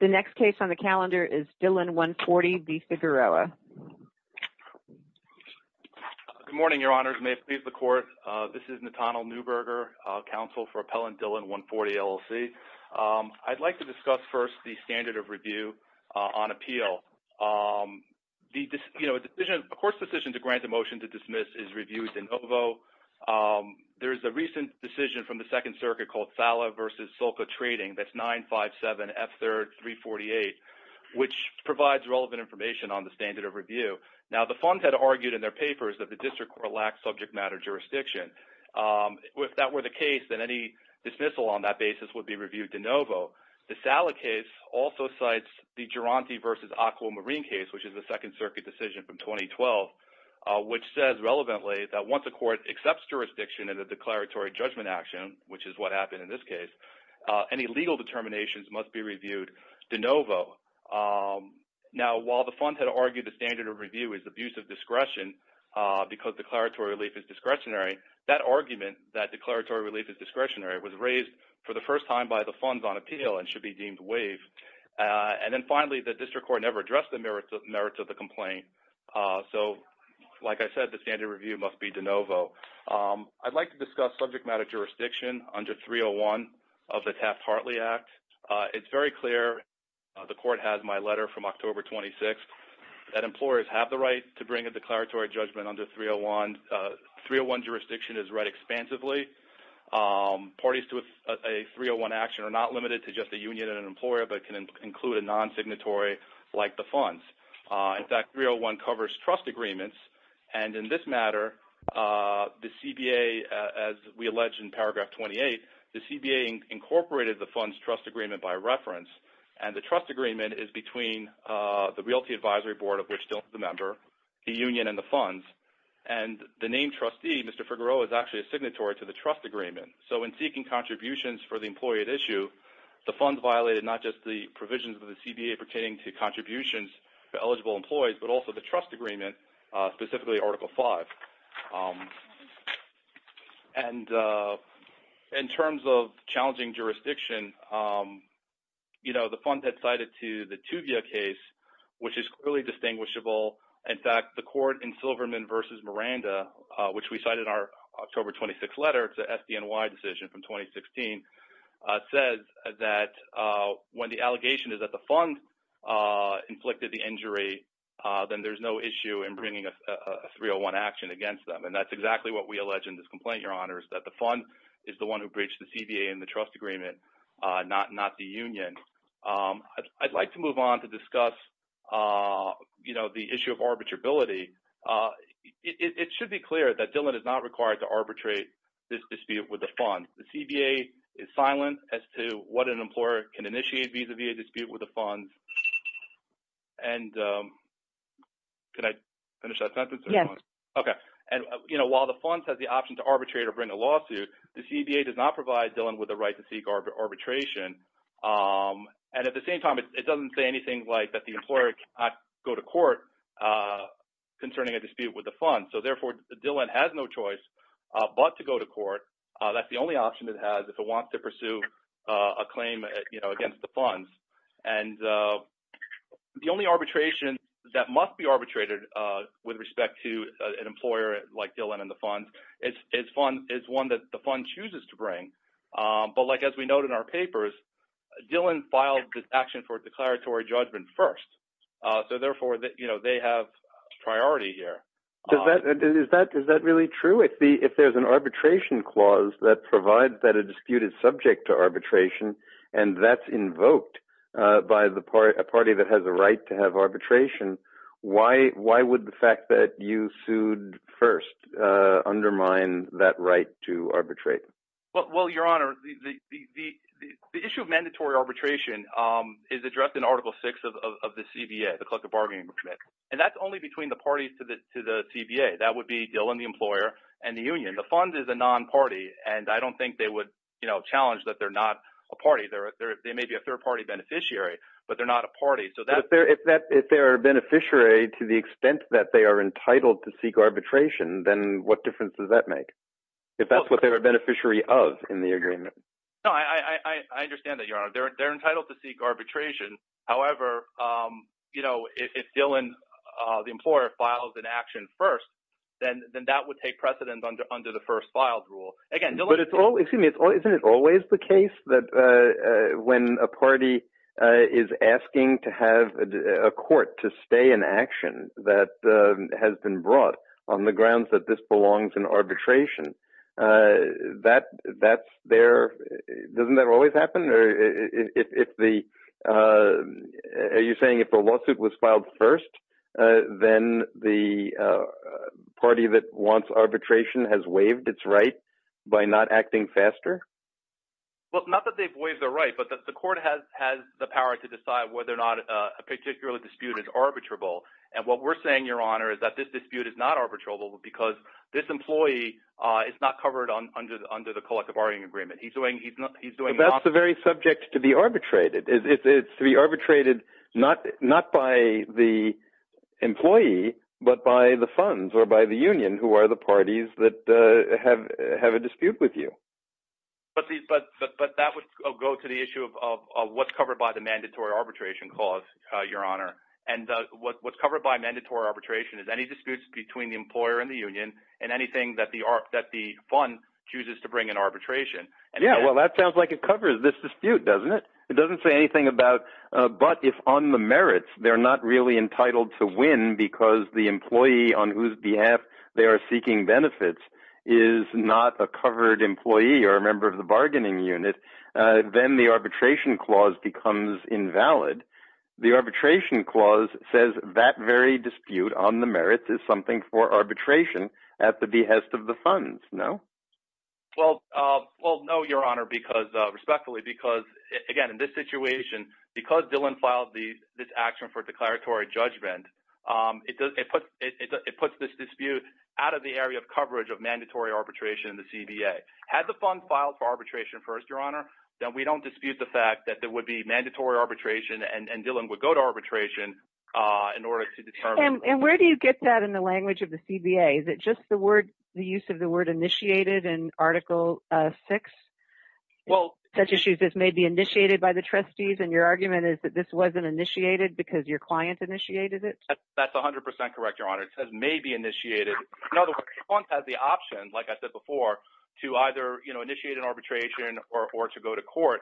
Good morning, Your Honors. May it please the Court, this is Nathaniel Neuberger, counsel for Appellant Dillon 140 LLC. I'd like to discuss first the standard of review on appeal. A court's decision to grant a motion to dismiss is reviewed de novo. There's a recent decision from the Second Circuit called Sala v. Sulca Trading, that's 957F338, which provides relevant information on the standard of review. Now, the funds had argued in their papers that the district court lacks subject matter jurisdiction. If that were the case, then any dismissal on that basis would be reviewed de novo. The Sala case also cites the Durante v. Aquamarine case, which is a Second Circuit decision from 2012, which says relevantly that once a court accepts jurisdiction in a declaratory judgment action, which is what happened in this case, any legal determinations must be reviewed de novo. Now, while the funds had argued the standard of review is abuse of discretion because declaratory relief is discretionary, that argument, that declaratory relief is discretionary, was raised for the first time by the funds on appeal and should be deemed waived. And then finally, the district court never addressed the merits of the complaint. So, like I said, the standard of review must be de novo. I'd like to discuss subject matter jurisdiction under 301 of the Taft-Hartley Act. It's very clear, the court has my letter from October 26th, that employers have the jurisdiction is read expansively. Parties to a 301 action are not limited to just a union and an employer, but can include a non-signatory like the funds. In fact, 301 covers trust agreements. And in this matter, the CBA, as we allege in paragraph 28, the CBA incorporated the funds trust agreement by reference. And the trust agreement is between the Realty Advisory Board, of which Dylan is a member, the union, and the funds. And the named trustee, Mr. Figueroa, is actually a signatory to the trust agreement. So, in seeking contributions for the employee at issue, the funds violated not just the provisions of the CBA pertaining to contributions to eligible employees, but also the trust agreement, specifically Article 5. And in terms of challenging jurisdiction, you know, the funds had cited to the Tuvia case, which is clearly distinguishable. In fact, the court in Silverman v. Miranda, which we cited in our October 26th letter, it's an SDNY decision from 2016, says that when the allegation is that the funds inflicted the injury, then there's no issue in bringing a 301 action against them. And that's exactly what we allege in this complaint, Your Honors, that the funds is the one who breached the CBA and the trust agreement, not the union. I'd like to move on to discuss, you know, the issue of arbitrability. It should be clear that Dillon is not required to arbitrate this dispute with the funds. The CBA is silent as to what an employer can initiate vis-a-vis a dispute with the funds. And can I finish that sentence? Yes. Okay. And, you know, while the funds has the option to arbitrate or bring a lawsuit, the CBA does not provide Dillon with the right to seek arbitration. And at the same time, it doesn't say anything like that the employer cannot go to court concerning a dispute with the funds. So, therefore, Dillon has no choice but to go to court. That's the only option it has if it wants to pursue a claim, you know, against the funds. And the only arbitration that must be arbitrated with respect to an employer like Dillon and the funds is one that the fund chooses to bring. But like as we note in our papers, Dillon filed this action for declaratory judgment first. So, therefore, you know, they have priority here. Is that really true? If there's an arbitration clause that provides that a dispute is subject to arbitration and that's invoked by the party that has a right to have arbitration, why would the fact that you sued first undermine that right to arbitrate? Well, your honor, the issue of mandatory arbitration is addressed in Article 6 of the CBA, the Collective Bargaining Committee. And that's only between the parties to the CBA. That would be Dillon, the employer, and the union. The funds is a non-party, and I don't think they would, you know, challenge that they're not a party. They may be a third-party beneficiary, but they're not a party. But if they're a beneficiary to the extent that they are entitled to seek arbitration, then what difference does that make? If that's what they're a beneficiary of in the agreement. No, I understand that, your honor. They're entitled to seek arbitration. However, you know, if Dillon, the employer, files an action first, then that would take precedent under the first-filed rule. Again, Dillon— But it's always—excuse me, isn't it always the case that when a party is asking to have a court to stay in action that has been brought on the grounds that this belongs in arbitration, that's their—doesn't that always happen? Are you saying if a lawsuit was filed first, then the party that wants arbitration has waived its right by not acting faster? Well, not that they've waived their right, but the court has the power to decide whether or not a particular dispute is arbitrable. And what we're saying, your honor, is that this dispute is not arbitrable because this employee is not covered under the collective bargaining agreement. He's doing— But that's the very subject to be arbitrated. It's to be arbitrated not by the employee, but by the funds or by the union, who are the parties that have a dispute with you. But that would go to the issue of what's covered by the mandatory arbitration clause, your honor. And what's covered by mandatory arbitration is any disputes between the employer and the union and anything that the fund chooses to bring in arbitration. Yeah, well, that sounds like it covers this dispute, doesn't it? It doesn't say anything about—but if on the merits, they're not really entitled to win because the employee on whose benefits is not a covered employee or a member of the bargaining unit, then the arbitration clause becomes invalid. The arbitration clause says that very dispute on the merits is something for arbitration at the behest of the funds, no? Well, no, your honor, because—respectfully, because, again, in this situation, because of mandatory arbitration in the CBA. Had the fund filed for arbitration first, your honor, then we don't dispute the fact that there would be mandatory arbitration and Dylan would go to arbitration in order to determine— And where do you get that in the language of the CBA? Is it just the word—the use of the word initiated in Article 6? Such issues as may be initiated by the trustees, and your argument is that this wasn't initiated because your client initiated it? That's 100 percent correct, your honor. May be initiated. In other words, the fund has the option, like I said before, to either initiate an arbitration or to go to court.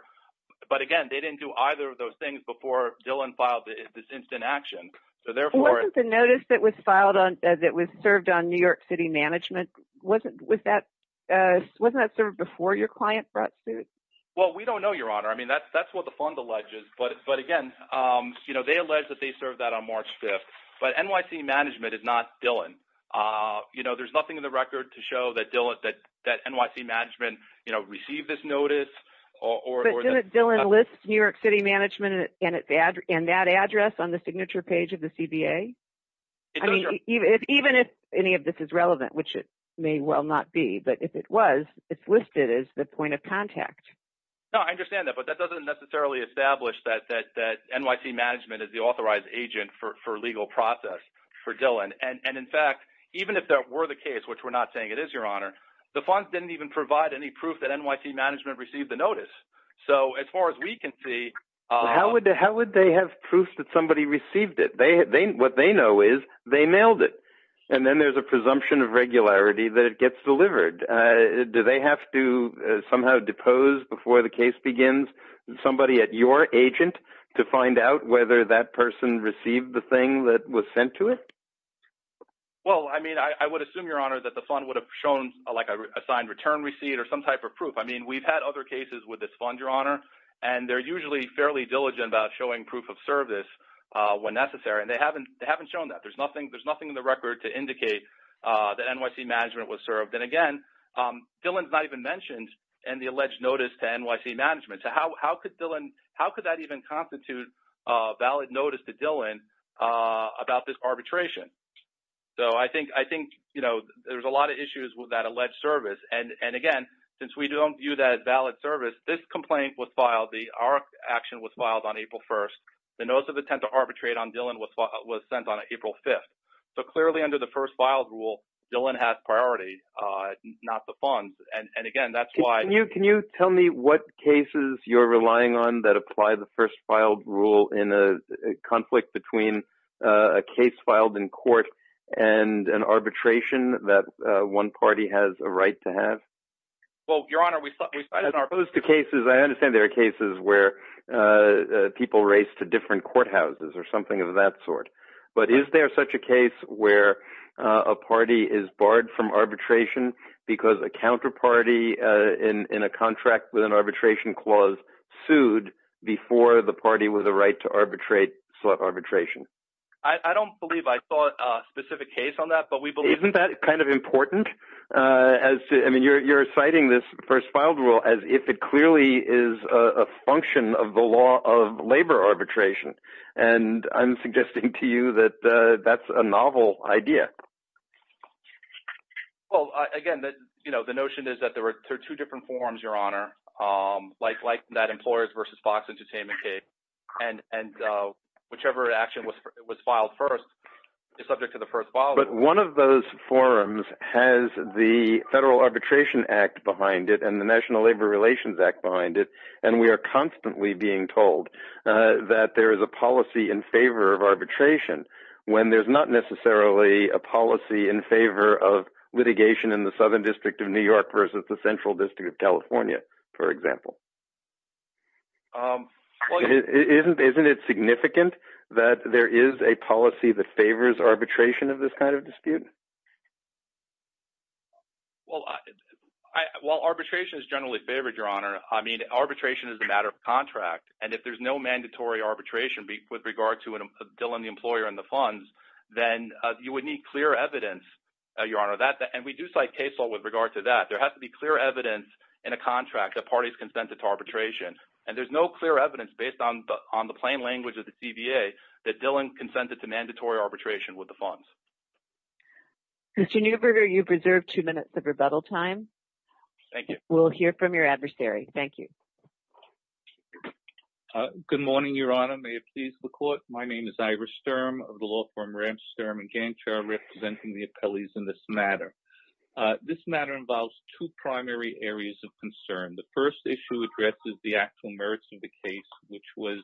But again, they didn't do either of those things before Dylan filed this instant action. So therefore— Wasn't the notice that was filed on—that was served on New York City Management, wasn't that served before your client brought suit? Well, we don't know, your honor. I mean, that's what the fund alleges. But again, they allege that they served that on March 5th. But NYC Management is not Dylan. You know, there's nothing in the record to show that Dylan—that NYC Management, you know, received this notice or— But didn't Dylan list New York City Management in that address on the signature page of the CBA? It does, your— I mean, even if any of this is relevant, which it may well not be, but if it was, it's listed as the point of contact. No, I understand that. But that doesn't necessarily establish that NYC Management is the authorized agent for legal process for Dylan. And in fact, even if that were the case, which we're not saying it is, your honor, the funds didn't even provide any proof that NYC Management received the notice. So as far as we can see— How would they have proof that somebody received it? What they know is they mailed it. And then there's a presumption of regularity that it has to somehow depose before the case begins somebody at your agent to find out whether that person received the thing that was sent to it. Well, I mean, I would assume, your honor, that the fund would have shown like a signed return receipt or some type of proof. I mean, we've had other cases with this fund, your honor, and they're usually fairly diligent about showing proof of service when necessary. And they haven't shown that. There's nothing in the record to even mention the alleged notice to NYC Management. So how could that even constitute a valid notice to Dylan about this arbitration? So I think there's a lot of issues with that alleged service. And again, since we don't view that as valid service, this complaint was filed. Our action was filed on April 1st. The notice of attempt to arbitrate on Dylan was sent on April 5th. So clearly under the first filed rule, Dylan has priority, not the funds. And again, that's why... Can you tell me what cases you're relying on that apply the first filed rule in a conflict between a case filed in court and an arbitration that one party has a right to have? Well, your honor, we... As opposed to cases, I understand there are cases where people race to different courthouses or something of that sort. But is there such a case where a party is barred from arbitration because a counterparty in a contract with an arbitration clause sued before the party with a right to arbitrate sought arbitration? I don't believe I saw a specific case on that, but we believe... Isn't that kind of important? I mean, you're citing this first filed rule as if it clearly is a function of the law of labor arbitration. And I'm suggesting to you that that's a novel idea. Well, again, the notion is that there are two different forums, your honor, like that Employers vs. Fox Entertainment case. And whichever action was filed first is subject to the first file. But one of those forums has the Federal Arbitration Act behind it and the National Labor Relations Act behind it. And we are constantly being told that there is a policy in favor of arbitration when there's not necessarily a policy in favor of litigation in the Southern District of New York versus the Central District of California, for example. Isn't it significant that there is a policy that favors arbitration of this kind of dispute? Well, arbitration is generally favored, your honor. I mean, arbitration is a matter of contract. And if there's no mandatory arbitration with regard to Dylan, the employer, and the funds, then you would need clear evidence, your honor. And we do cite case law with regard to that. There has to be clear evidence in a contract that parties consented to arbitration. And there's no clear evidence based on the plain language of the CBA that Dylan consented to mandatory arbitration with the funds. Mr. Neuberger, you've reserved two minutes of rebuttal time. Thank you. We'll hear from your adversary. Thank you. Good morning, your honor. May it please the court. My name is Ira Sturm of the law firm Ramsterm and Gancher representing the appellees in this matter. This matter involves two primary areas of concern. The first issue addresses the actual merits of the case, which was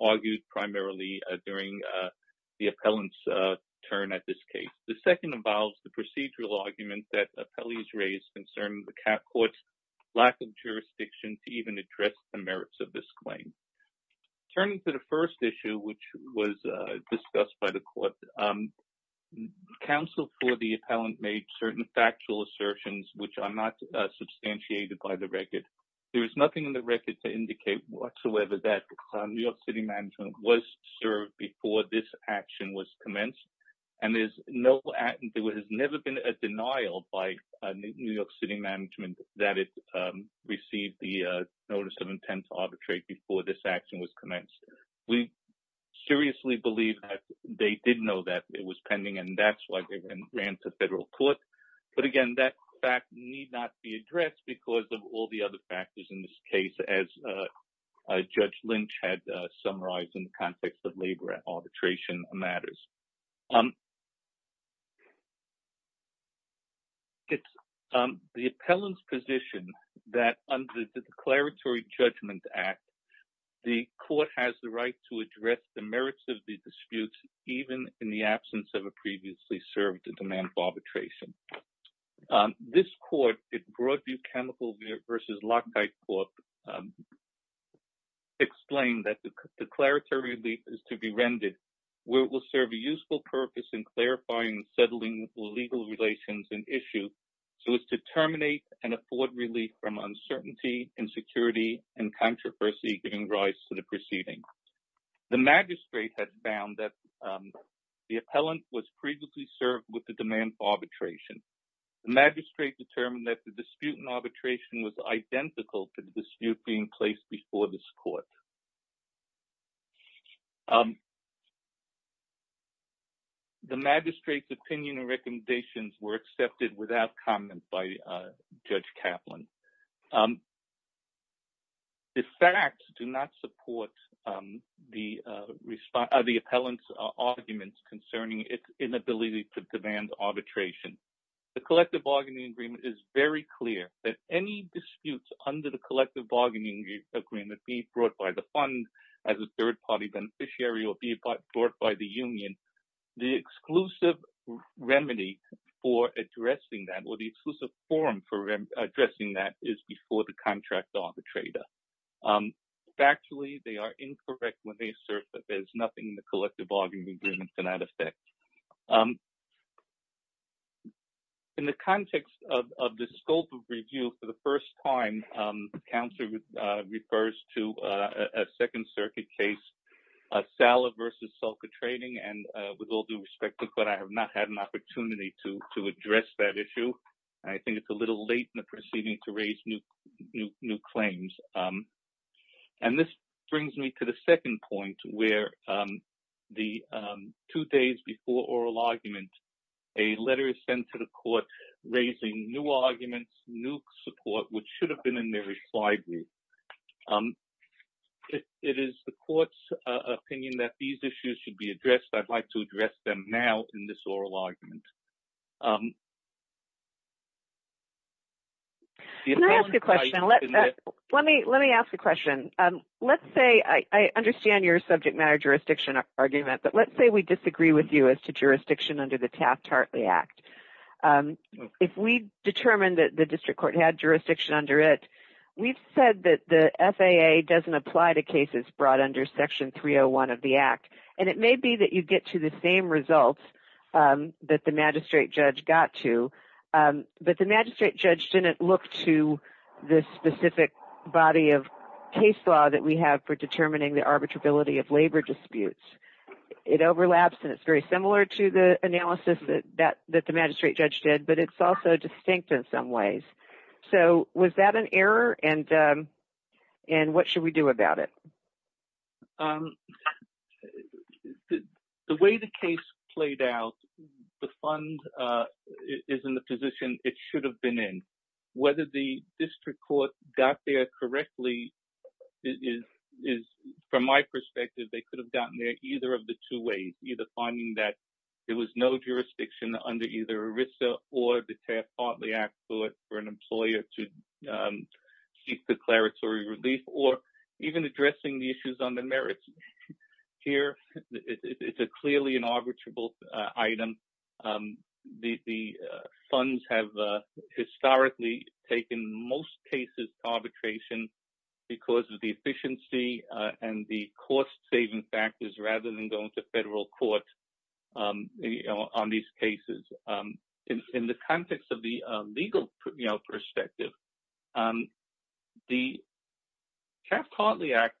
argued primarily during the appellant's turn at this case. The second involves the procedural argument that appellees raised concerning the court's lack of jurisdiction to even address the merits of this claim. Turning to the first issue, which was discussed by the court, counsel for the appellant made certain factual assertions which are not substantiated by the record. There is nothing in the record to indicate whatsoever that New York City management was served before this action was commenced. And there has never been a denial by New York City that it received the notice of intent to arbitrate before this action was commenced. We seriously believe that they did know that it was pending and that's why they ran to federal court. But again, that fact need not be addressed because of all the other factors in this case, as Judge Lynch had summarized in the context of labor arbitration matters. It's the appellant's position that under the Declaratory Judgment Act, the court has the right to address the merits of the dispute, even in the absence of a previously served demand for arbitration. This court, Broadview Chemical v. Lockheight Court, has explained that the declaratory relief is to be rendered where it will serve a useful purpose in clarifying and settling legal relations and issues so as to terminate and afford relief from uncertainty, insecurity, and controversy giving rise to the proceeding. The magistrate had found that the appellant was previously served with the demand for arbitration. The magistrate determined that the dispute in arbitration was identical to the dispute being placed before this court. The magistrate's opinion and recommendations were accepted without comment by Judge Kaplan. The facts do not support the appellant's arguments concerning its inability to demand arbitration. The Collective Bargaining Agreement is very clear that any disputes under the Collective Bargaining Agreement be brought by the fund as a third-party beneficiary or be brought by the union. The exclusive form for addressing that is before the contract arbitrator. Factually, they are incorrect when they assert that there is nothing in the Collective Bargaining Agreement to that effect. In the context of the scope of review, for the first time, the counselor refers to a Second Circuit case, Sala versus Sulca Trading, and with all due respect to the court, I have not had an opportunity to address that issue. I think it's a little late in the proceeding to raise new claims. This brings me to the second point, where two days before oral argument, a letter is sent to the court raising new arguments, new support, which should have been in the reply group. It is the court's opinion that these issues should be addressed. I would like to address them now in this oral argument. I understand your subject matter jurisdiction argument, but let's say we disagree with you as to jurisdiction under the Taft-Hartley Act. If we determine that the district court had jurisdiction under it, we've said that the FAA doesn't apply to cases brought under Section 301 of the Act, and it may be that you get to the same results that the magistrate judge got to, but the magistrate judge didn't look to the specific body of case law that we have for determining the arbitrability of labor disputes. It overlaps, and it's very similar to the analysis that the magistrate judge did, but it's also distinct in some ways. Was that an error, and what should we do about it? The way the case played out, the fund is in the position it should have been in. Whether the district court got there correctly is, from my perspective, they could have gotten there either of the two ways, either finding that there was no jurisdiction under either ERISA or the Taft-Hartley Act for an employer to seek declaratory relief, or even addressing the issues on the merits. Here, it's clearly an arbitrable item. The funds have historically taken most cases to arbitration because of the efficiency and the cost-saving factors rather than going to federal court on these cases. In the context of the legal perspective, the Taft-Hartley Act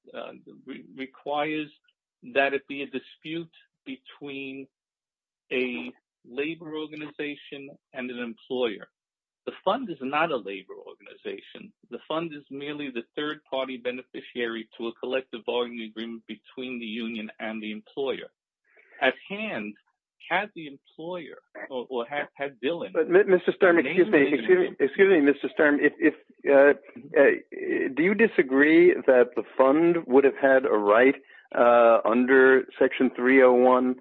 requires that it be a dispute between a labor organization and an employer. The fund is not a labor organization. The fund is merely the third-party beneficiary to a collective bargaining agreement between the union and the employer. At hand, had the employer or had Mr. Sturm, excuse me, Mr. Sturm, do you disagree that the fund would have had a right under Section 301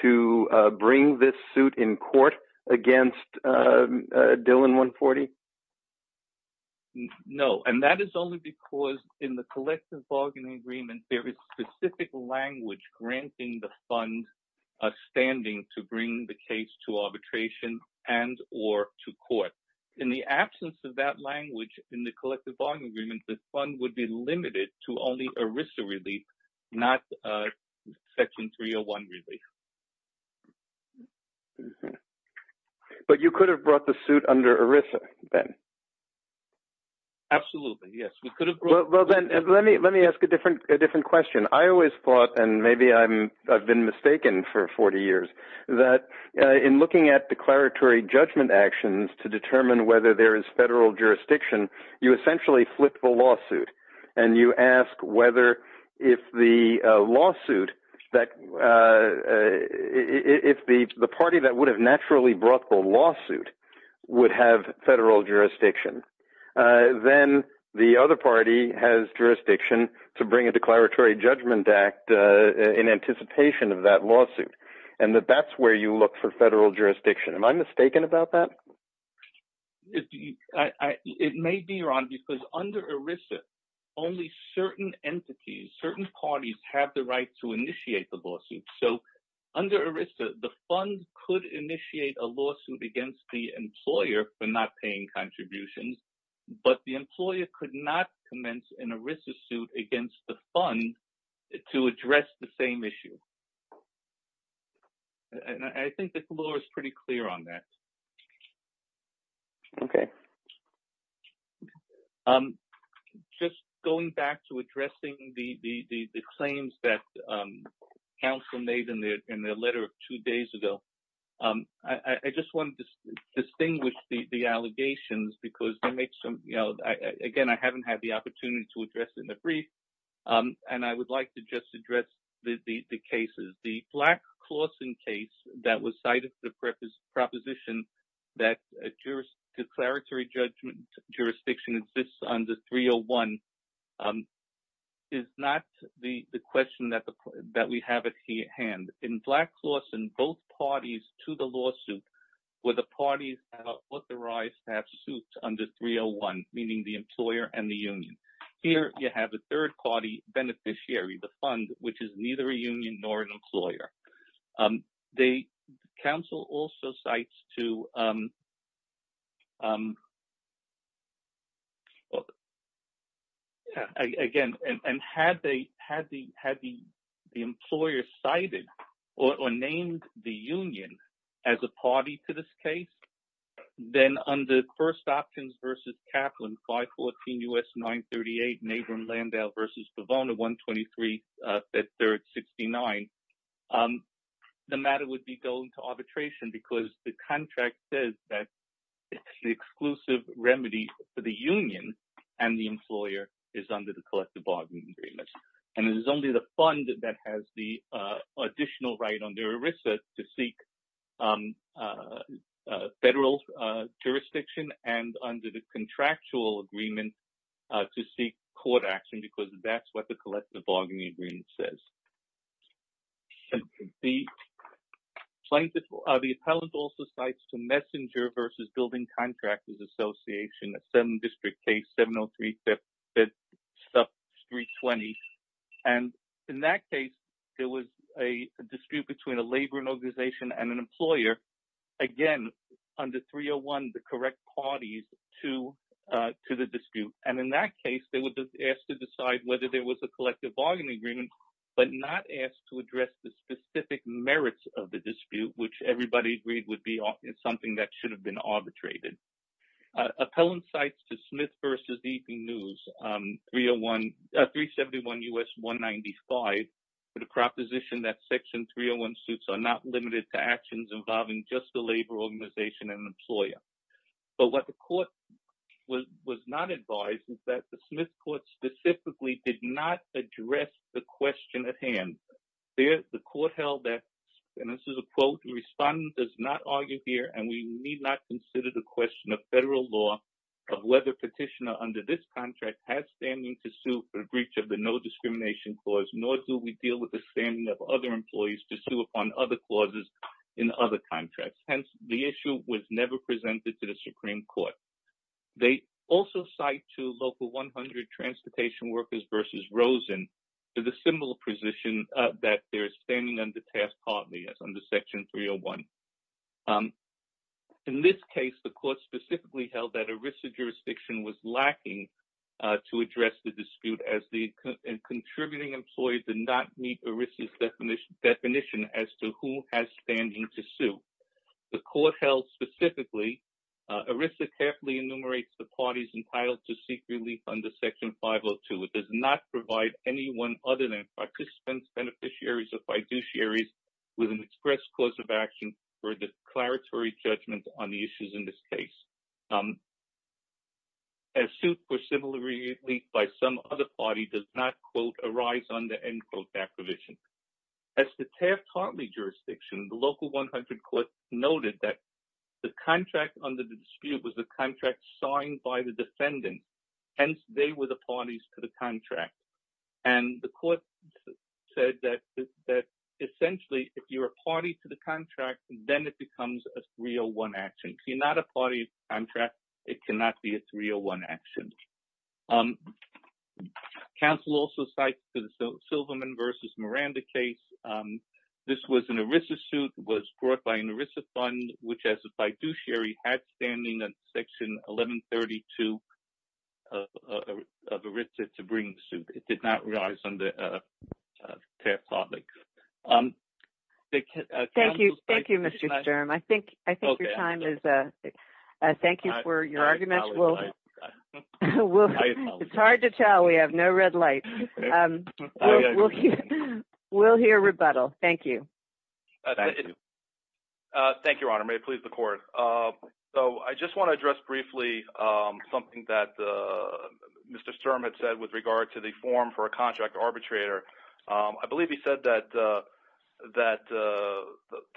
to bring this suit in court against Dillon 140? No, and that is only because in the collective bargaining agreement, there is specific language granting the fund a standing to bring the case to arbitration and or to court. In the absence of that language in the collective bargaining agreement, the fund would be limited to only ERISA relief, not Section 301 relief. But you could have brought the suit under ERISA then? Absolutely, yes, we could have. Well, then let me ask a different question. I always thought, and maybe I've been mistaken for 40 years, that in looking at declaratory judgment actions to determine whether there is federal jurisdiction, you essentially flip the lawsuit and you ask whether if the party that would have naturally brought the lawsuit would have federal jurisdiction. Then the other party has jurisdiction to bring a declaratory judgment act in anticipation of that lawsuit. And that that's where you look for federal jurisdiction. Am I mistaken about that? It may be, Ron, because under ERISA, only certain entities, certain parties have the right to initiate the lawsuit. So under ERISA, the fund could initiate a lawsuit against the employer for not paying contributions, but the employer could not commence an ERISA suit against the fund to address the same issue. And I think the floor is pretty clear on that. Okay. Just going back to addressing the claims that counsel made in their letter of two days ago, I just wanted to distinguish the allegations because they make some, you know, again, I haven't had the opportunity to address in the brief, and I would like to just address the cases. The Black-Clausen case that was cited for the proposition that a declaratory judgment jurisdiction exists under 301 is not the question that we have at hand. In Black-Clausen, both parties to the lawsuit were the parties authorized to have suits under 301, meaning the employer and the union. Here, you have a third-party beneficiary, the fund, which is neither a union nor an employer. The counsel also cites to, well, again, and had the employer cited or named the union as a party to this case, then under First Options v. Kaplan, 514 U.S. 938, Nagel and Landau v. Pavone, 123, at 369, the matter would be going to arbitration because the contract says that it's the exclusive remedy for the union and the employer is under the collective bargaining agreement. And it is only the fund that has the additional right under ERISA to seek federal jurisdiction and under the contractual agreement to seek court action because that's the collective bargaining agreement says. The plaintiff, the appellant also cites to Messenger v. Building Contractors Association, a 7th District case, 703, 5th Street, 320. And in that case, there was a dispute between a labor organization and an employer, again, under 301, the correct parties to the dispute. And in that case, they were asked to decide whether there was a collective bargaining agreement, but not asked to address the specific merits of the dispute, which everybody agreed would be something that should have been arbitrated. Appellant cites to Smith v. Evening News, 371 U.S. 195, for the proposition that Section 301 suits are not limited to actions involving just the labor organization and employer. But what the court was not advised is that the Smith Court specifically did not address the question at hand. The court held that, and this is a quote, the respondent does not argue here and we need not consider the question of federal law of whether petitioner under this contract has standing to sue for breach of the no discrimination clause, nor do we deal with the standing of other employees to sue upon other clauses in other contracts. Hence, the issue was never presented to the Supreme Court. They also cite to Local 100 Transportation Workers v. Rosen for the similar position that they're standing under task partly as under Section 301. In this case, the court specifically held that ERISA jurisdiction was lacking to address the has standing to sue. The court held specifically ERISA carefully enumerates the parties entitled to seek relief under Section 502. It does not provide anyone other than participants, beneficiaries or fiduciaries with an express cause of action for declaratory judgment on the issues in this case. A suit for similar relief by some other party does not, quote, arise under, end quote, approvision. As the task partly jurisdiction, the Local 100 court noted that the contract under the dispute was the contract signed by the defendant. Hence, they were the parties to the contract. And the court said that essentially, if you're a party to the contract, then it becomes a 301 action. If you're not a party to the contract, it cannot be a 301 action. Um, counsel also cited the Silverman versus Miranda case. This was an ERISA suit was brought by an ERISA fund, which as a fiduciary had standing in Section 1132 of ERISA to bring the suit. It did not rise under task partly. Thank you. Thank you, Mr. Sturm. I think I it's hard to tell. We have no red light. We'll hear rebuttal. Thank you. Thank you, Your Honor. May it please the court. So I just want to address briefly something that Mr. Sturm had said with regard to the form for a contract arbitrator. I believe he said that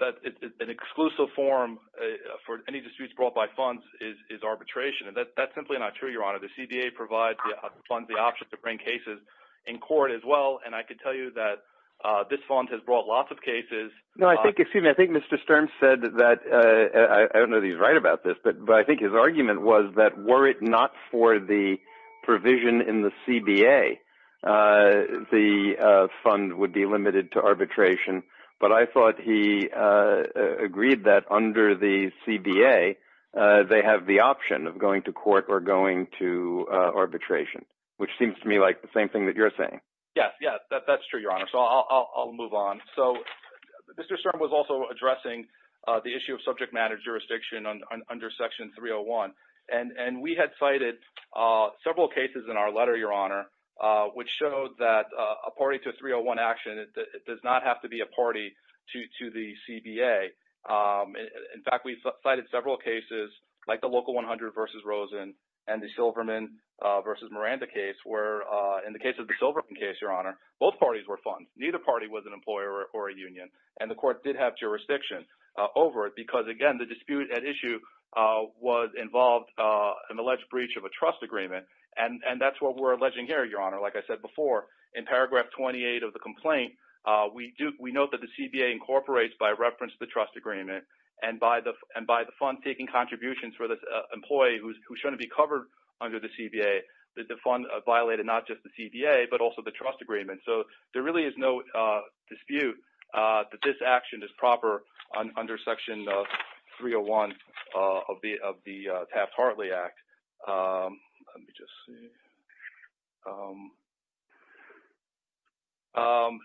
an exclusive form for any disputes brought by funds is arbitration. And that's simply not true, Your Honor. The CBA provides funds the option to bring cases in court as well. And I could tell you that this fund has brought lots of cases. No, I think, excuse me, I think Mr. Sturm said that I don't know that he's right about this, but I think his argument was that were it not for the provision in the CBA, the fund would be limited to arbitration. But I thought he agreed that under the CBA, they have the option of going to court or going to arbitration, which seems to me like the same thing that you're saying. Yes. Yes, that's true, Your Honor. So I'll move on. So Mr. Sturm was also addressing the issue of subject matter jurisdiction under Section 301. And we had cited several cases in our letter, Your Honor, which showed that a party to 301 action, it does not have to be a party to the CBA. In fact, we cited several cases, like the Local 100 v. Rosen and the Silverman v. Miranda case, where in the case of the Silverman case, Your Honor, both parties were funds. Neither party was an employer or a union. And the court did have jurisdiction over it because, again, the dispute at issue was involved in alleged breach of a trust agreement. And that's what we're alleging here, Your Honor. Like I said before, in paragraph 28 of the complaint, we note that the CBA incorporates by reference the trust agreement. And by the fund taking contributions for this employee who shouldn't be covered under the CBA, the fund violated not just the CBA, but also the trust agreement. So there really is no dispute that this action is proper under Section 301 of the Taft-Hartley Act. Let me just see.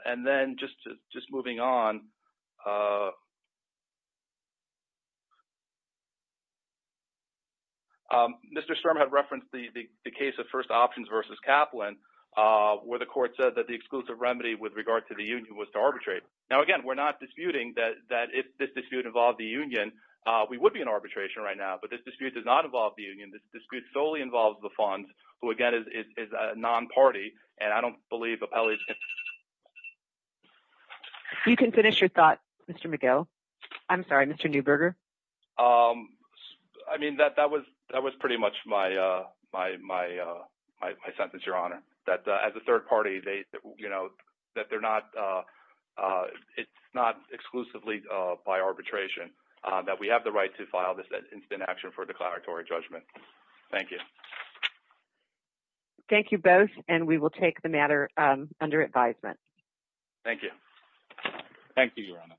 And then just moving on, Mr. Sturm had referenced the case of First Options v. Kaplan, where the court said that the exclusive remedy with regard to the union was to arbitrate. Now, again, we're not disputing that if this dispute involved the union, we would be in arbitration right now. But this dispute does not involve the union. This dispute solely involves the funds, who, again, is a non-party. And I don't believe Apelli's... You can finish your thought, Mr. McGill. I'm sorry, Mr. Neuberger. I mean, that was pretty much my sentence, Your Honor. That as a third party, it's not exclusively by arbitration that we have the right to file this instant action for declaratory judgment. Thank you. Thank you both. And we will take the matter under advisement. Thank you. Thank you, Your Honor.